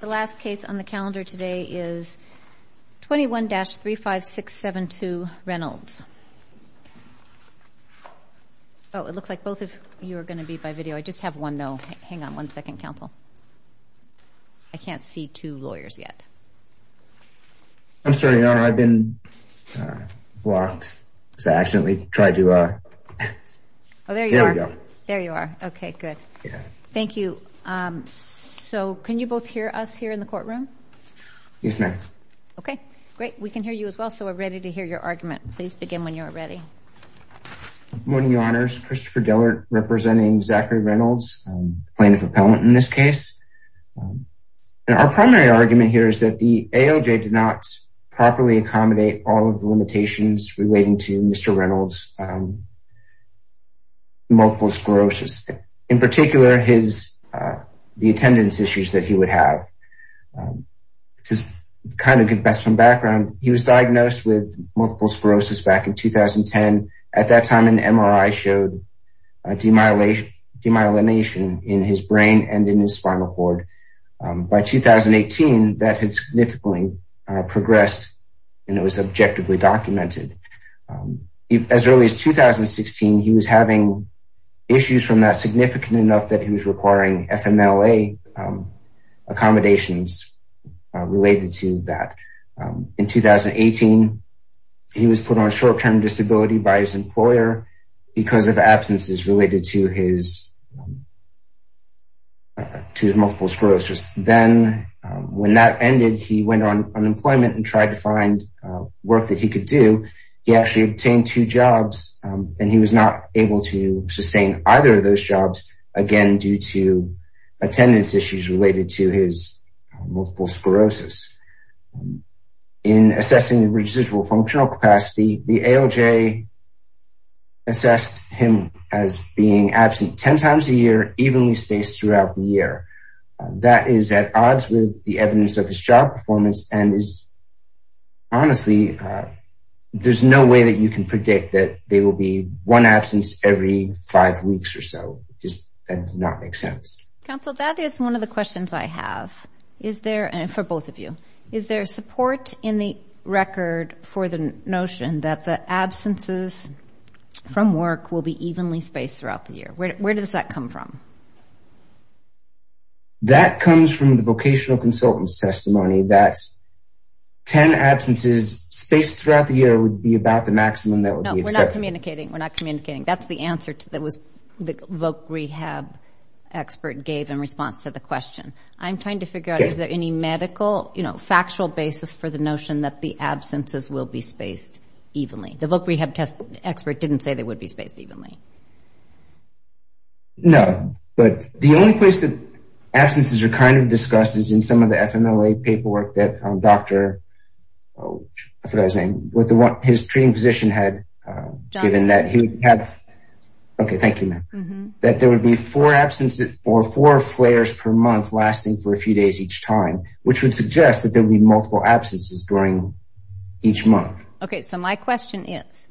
The last case on the calendar today is 21-35672 Reynolds. Oh, it looks like both of you are going to be by video. I just have one, though. Hang on one second, counsel. I can't see two lawyers yet. I'm sorry, Your Honor. I've been blocked. I accidentally tried to... Oh, there you are. There you are. Okay, good. Thank you. So can you both hear us here in the courtroom? Yes, ma'am. Okay, great. We can hear you as well, so we're ready to hear your argument. Please begin when you're ready. Good morning, Your Honors. Christopher Dillard representing Zachary Reynolds, plaintiff appellant in this case. Our primary argument here is that the AOJ did not properly accommodate all of the limitations relating to Mr. Reynolds' multiple sclerosis. In particular, the attendance issues that he would have. To kind of give background, he was diagnosed with multiple sclerosis back in 2010. At that time, an MRI showed demyelination in his brain and in his spinal cord. By 2018, that had significantly progressed and it was objectively documented. As early as 2016, he was having issues from that significant enough that he was requiring FMLA accommodations related to that. In 2018, he was put on short-term disability by his employer because of absences related to his multiple sclerosis. Then, when that ended, he went on unemployment and tried to find work that he could do. He actually obtained two jobs and he was not able to sustain either of those jobs again due to attendance issues related to his multiple sclerosis. In assessing the residual functional capacity, the AOJ assessed him as being absent 10 times a year, evenly spaced throughout the year. That is at odds with the evidence of his job performance. Honestly, there's no way that you can predict that there will be one absence every five weeks or so. That does not make sense. Counsel, that is one of the questions I have for both of you. Is there support in the record for the notion that the absences from work will be evenly spaced throughout the year? Where does that come from? That comes from the vocational consultant's testimony that 10 absences spaced throughout the year would be about the maximum that would be accepted. We're not communicating. That's the answer that the voc rehab expert gave in response to the question. I'm trying to figure out if there is any medical factual basis for the notion that the absences will be spaced evenly. The voc rehab expert didn't say they would be spaced evenly. No, but the only place that absences are kind of discussed is in some of the FMLA paperwork that his treating physician had given. Okay, thank you, ma'am. That there would be four absences or four flares per month lasting for a few days each time, which would suggest that there would be multiple absences during each month. Okay, so my question is,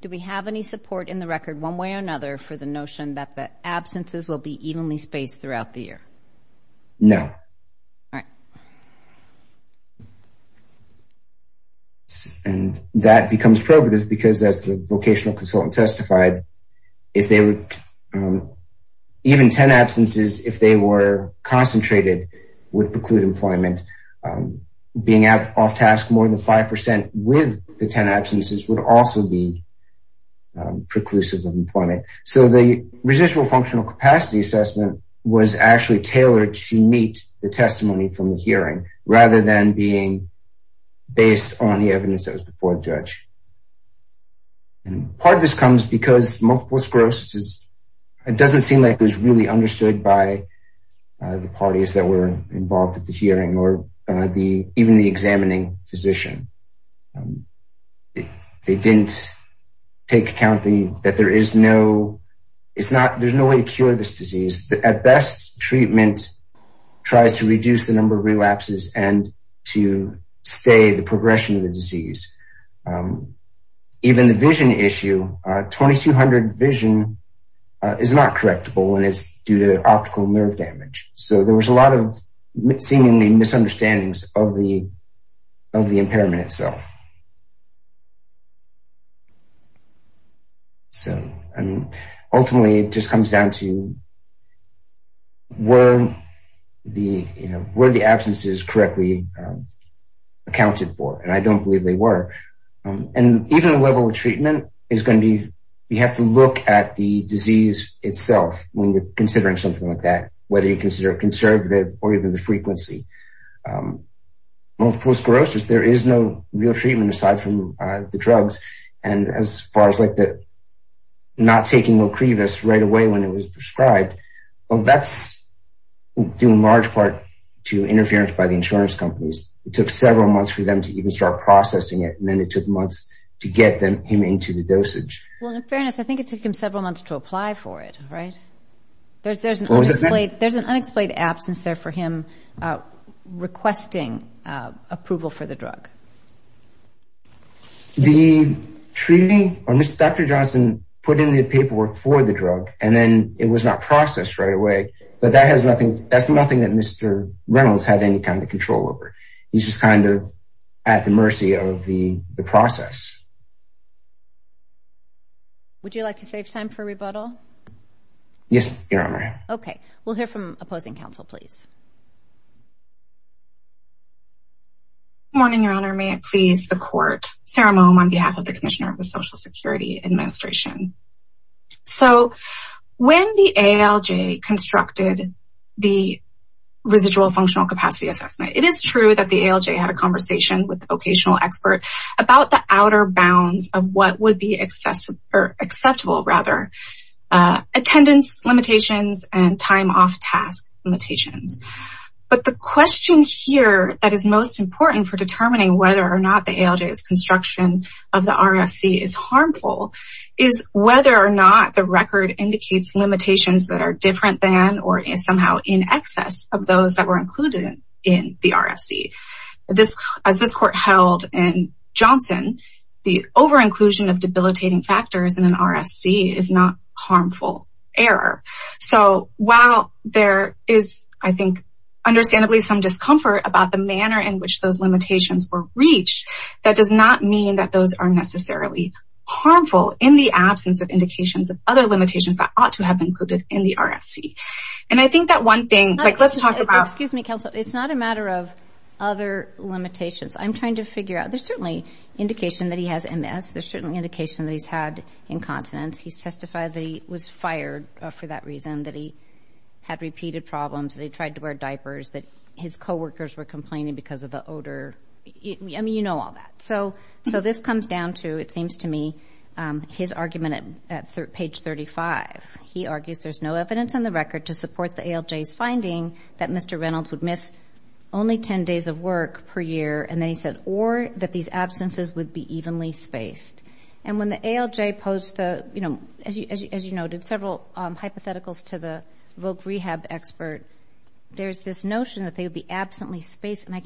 do we have any support in the record, one way or another, for the notion that the absences will be evenly spaced throughout the year? No. All right. And that becomes probative because, as the vocational consultant testified, even 10 absences, if they were concentrated, would preclude employment. Being off task more than 5% with the 10 absences would also be preclusive of employment. So the residual functional capacity assessment was actually tailored to meet the testimony from the hearing, rather than being based on the evidence that was before the judge. Part of this comes because multiple sclerosis, it doesn't seem like it was really understood by the parties that were involved at the hearing or even the examining physician. They didn't take account that there is no way to cure this disease. At best, treatment tries to reduce the number of relapses and to stay the progression of the disease. Even the vision issue, 2200 vision is not correctable when it's due to optical nerve damage. So there was a lot of seemingly misunderstandings of the impairment itself. Ultimately, it just comes down to, were the absences correctly accounted for? And I don't believe they were. And even a level of treatment is going to be, you have to look at the disease itself when you're considering something like that, whether you consider it conservative or even the frequency. Multiple sclerosis, there is no real treatment aside from the drugs. And as far as not taking nocrevus right away when it was prescribed, that's due in large part to interference by the insurance companies. It took several months for them to even start processing it. And then it took months to get him into the dosage. Well, in fairness, I think it took him several months to apply for it, right? There's an unexplained absence there for him requesting approval for the drug. The treating, Dr. Johnson put in the paperwork for the drug and then it was not processed right away. But that's nothing that Mr. Reynolds had any kind of control over. He's just kind of at the mercy of the process. Would you like to save time for rebuttal? Yes, Your Honor. Okay. We'll hear from opposing counsel, please. Good morning, Your Honor. May it please the court. Sarah Mohm on behalf of the Commissioner of the Social Security Administration. So when the ALJ constructed the residual functional capacity assessment, it is true that the ALJ had a conversation with the vocational expert about the outer bounds of what would be acceptable. Attendance limitations and time off task limitations. But the question here that is most important for determining whether or not the ALJ's construction of the RFC is harmful is whether or not the record indicates limitations that are different than or somehow in excess of those that were included in the RFC. As this court held in Johnson, the over-inclusion of debilitating factors in an RFC is not harmful error. So while there is, I think, understandably some discomfort about the manner in which those limitations were reached, that does not mean that those are necessarily harmful in the absence of indications of other limitations that ought to have been included in the RFC. And I think that one thing, like let's talk about... Other limitations. I'm trying to figure out. There's certainly indication that he has MS. There's certainly indication that he's had incontinence. He's testified that he was fired for that reason, that he had repeated problems, that he tried to wear diapers, that his coworkers were complaining because of the odor. I mean, you know all that. So this comes down to, it seems to me, his argument at page 35. He argues there's no evidence on the record to support the ALJ's finding that Mr. Reynolds would miss only 10 days of work per year, and then he said, or that these absences would be evenly spaced. And when the ALJ posed the, you know, as you noted, several hypotheticals to the voc rehab expert, there's this notion that they would be absently spaced, and I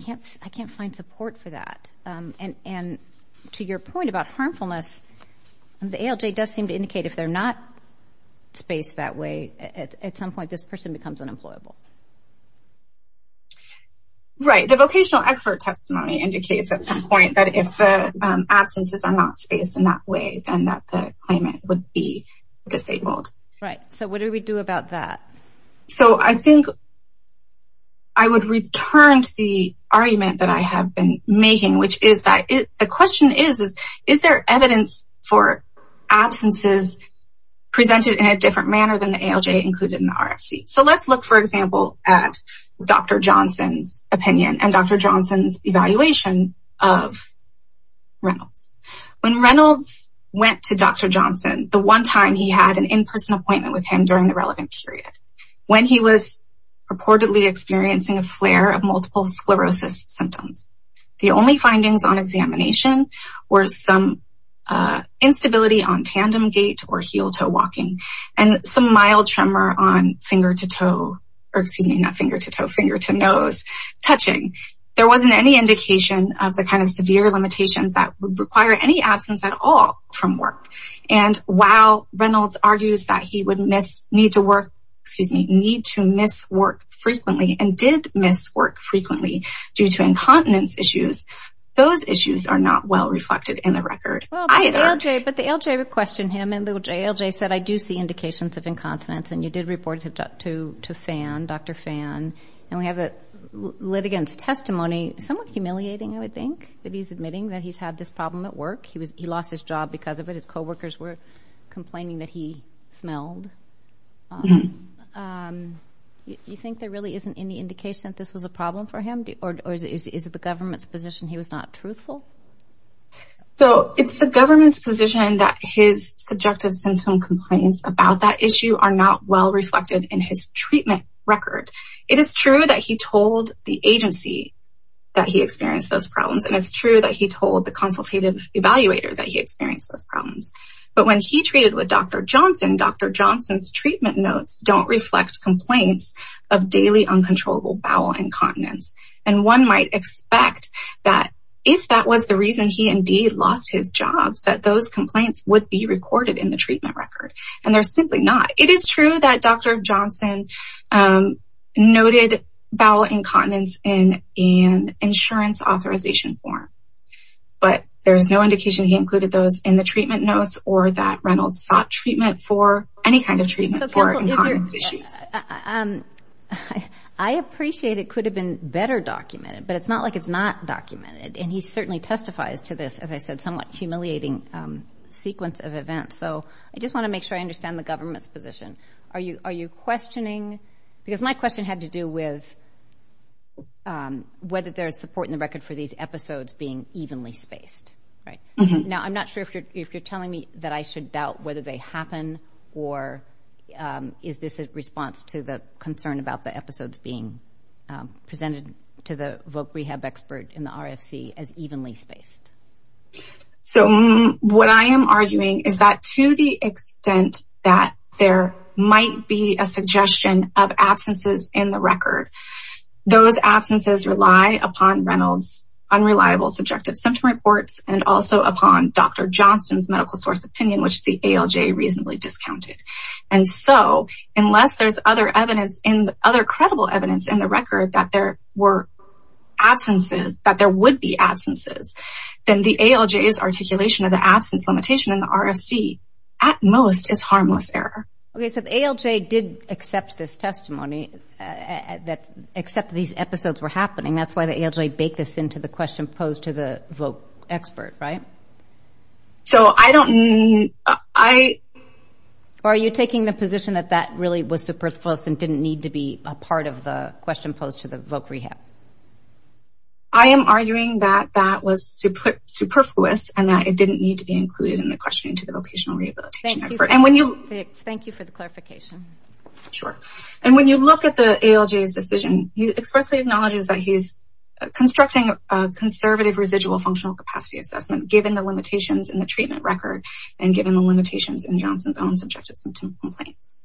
can't find support for that. And to your point about harmfulness, the ALJ does seem to indicate if they're not spaced that way, at some point this person becomes unemployable. Right. The vocational expert testimony indicates at some point that if the absences are not spaced in that way, then that the claimant would be disabled. Right. So what do we do about that? So I think I would return to the argument that I have been making, which is that the question is, is there evidence for absences presented in a different manner than the ALJ included in the RFC? So let's look, for example, at Dr. Johnson's opinion and Dr. Johnson's evaluation of Reynolds. When Reynolds went to Dr. Johnson, the one time he had an in-person appointment with him during the relevant period, when he was reportedly experiencing a flare of multiple sclerosis symptoms, the only findings on examination were some instability on tandem gait or heel-toe walking, and some mild tremor on finger-to-toe, or excuse me, not finger-to-toe, finger-to-nose touching. There wasn't any indication of the kind of severe limitations that would require any absence at all from work. And while Reynolds argues that he would need to work frequently and did miss work frequently due to incontinence issues, those issues are not well reflected in the record either. But the ALJ questioned him, and the ALJ said, I do see indications of incontinence, and you did report it to Phan, Dr. Phan. And we have the litigant's testimony, somewhat humiliating, I would think, that he's admitting that he's had this problem at work. He lost his job because of it. His coworkers were complaining that he smelled. Do you think there really isn't any indication that this was a problem for him, or is it the government's position he was not truthful? So, it's the government's position that his subjective symptom complaints about that issue are not well reflected in his treatment record. It is true that he told the agency that he experienced those problems, and it's true that he told the consultative evaluator that he experienced those problems. But when he treated with Dr. Johnson, Dr. Johnson's treatment notes don't reflect complaints of daily uncontrollable bowel incontinence. And one might expect that if that was the reason he indeed lost his job, that those complaints would be recorded in the treatment record. And they're simply not. It is true that Dr. Johnson noted bowel incontinence in an insurance authorization form. But there's no indication he included those in the treatment notes, or that Reynolds sought treatment for any kind of treatment for incontinence issues. I appreciate it could have been better documented, but it's not like it's not documented. And he certainly testifies to this, as I said, somewhat humiliating sequence of events. So I just want to make sure I understand the government's position. Are you questioning? Because my question had to do with whether there is support in the record for these episodes being evenly spaced, right? Now, I'm not sure if you're telling me that I should doubt whether they happen, or is this a response to the concern about the episodes being presented to the voc rehab expert in the RFC as evenly spaced? So what I am arguing is that to the extent that there might be a suggestion of absences in the record, those absences rely upon Reynolds' unreliable subjective symptom reports, and also upon Dr. Johnson's medical source opinion, which the ALJ reasonably discounted. And so, unless there's other evidence, other credible evidence in the record that there were absences, that there would be absences, then the ALJ's articulation of the absence limitation in the RFC, at most, is harmless error. Okay, so the ALJ did accept this testimony, accept that these episodes were happening. That's why the ALJ baked this into the question posed to the voc expert, right? So I don't mean, I... Or are you taking the position that that really was superfluous and didn't need to be a part of the question posed to the voc rehab? I am arguing that that was superfluous, and that it didn't need to be included in the question to the vocational rehabilitation expert. And when you... Thank you for the clarification. Sure. And when you look at the ALJ's decision, he expressly acknowledges that he's constructing a conservative residual functional capacity assessment, given the limitations in the treatment record, and given the limitations in Johnson's own subjective symptom complaints.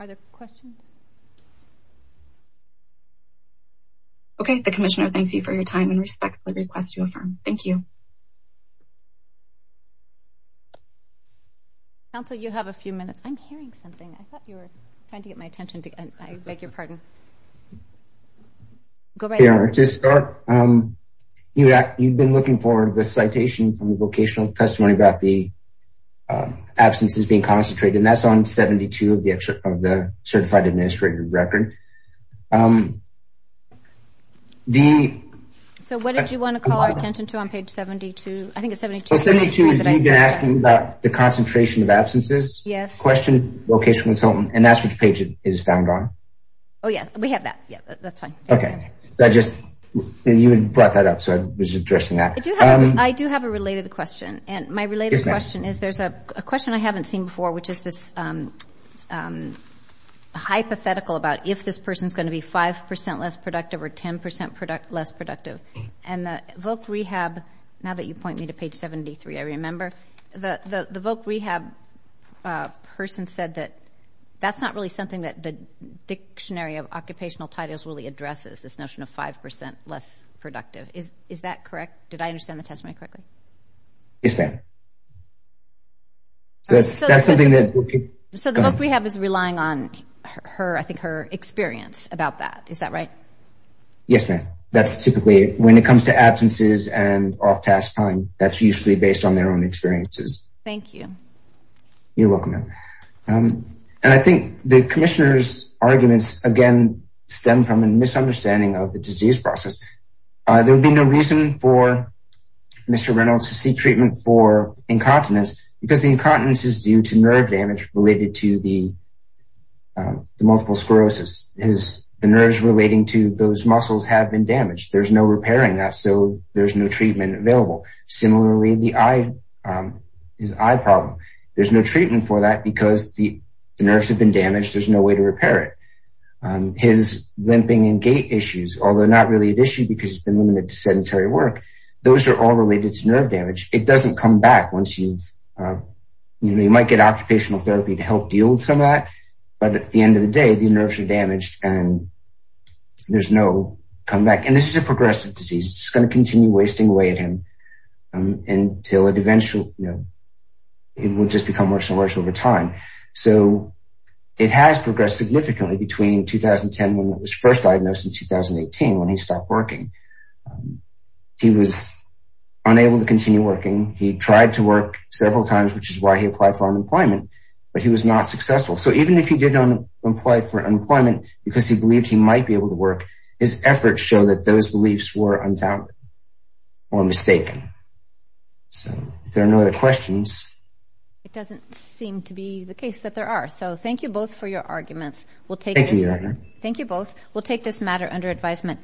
Are there questions? Okay, the Commissioner thanks you for your time and respectfully requests you affirm. Thank you. Council, you have a few minutes. I'm hearing something. I thought you were trying to get my attention. I beg your pardon. Go right ahead. To start, you've been looking for the citation from the vocational testimony about the absences being concentrated, and that's on 72 of the certified administrative record. So what did you want to call our attention to on page 72? I think it's 72. 72, you've been asking about the concentration of absences. Yes. Question vocational consultant, and that's which page it is found on. Oh, yes. We have that. Yeah, that's fine. Okay. You had brought that up, so I was addressing that. I do have a related question, and my related question is there's a question I haven't seen before, which is this hypothetical about if this person is going to be 5% less productive or 10% less productive. And the voc rehab, now that you point me to page 73, I remember, the voc rehab person said that that's not really something that the dictionary of occupational titles really addresses, this notion of 5% less productive. Is that correct? Did I understand the testimony correctly? Yes, ma'am. So the voc rehab is relying on her, I think, her experience about that. Is that right? Yes, ma'am. That's typically when it comes to absences and off task time, that's usually based on their own experiences. Thank you. You're welcome, ma'am. And I think the commissioner's arguments, again, stem from a misunderstanding of the disease process. There would be no reason for Mr. Reynolds to seek treatment for incontinence because the incontinence is due to nerve damage related to the multiple sclerosis. The nerves relating to those muscles have been damaged. There's no repair in that, so there's no treatment available. Similarly, his eye problem, there's no treatment for that because the nerves have been damaged. There's no way to repair it. His limping and gait issues, although not really an issue because he's been limited to sedentary work, those are all related to nerve damage. It doesn't come back once you've, you know, you might get occupational therapy to help deal with some of that, but at the end of the day, the nerves are damaged and there's no comeback. And this is a progressive disease. It's going to continue wasting away at him until it eventually, you know, it will just become worse and worse over time. So it has progressed significantly between 2010 when it was first diagnosed and 2018 when he stopped working. He was unable to continue working. He tried to work several times, which is why he applied for unemployment, but he was not successful. So even if he did apply for unemployment because he believed he might be able to work, his efforts show that those beliefs were unfounded or mistaken. So if there are no other questions. It doesn't seem to be the case that there are. So thank you both for your arguments. Thank you. Thank you both. We'll take this matter under advisement.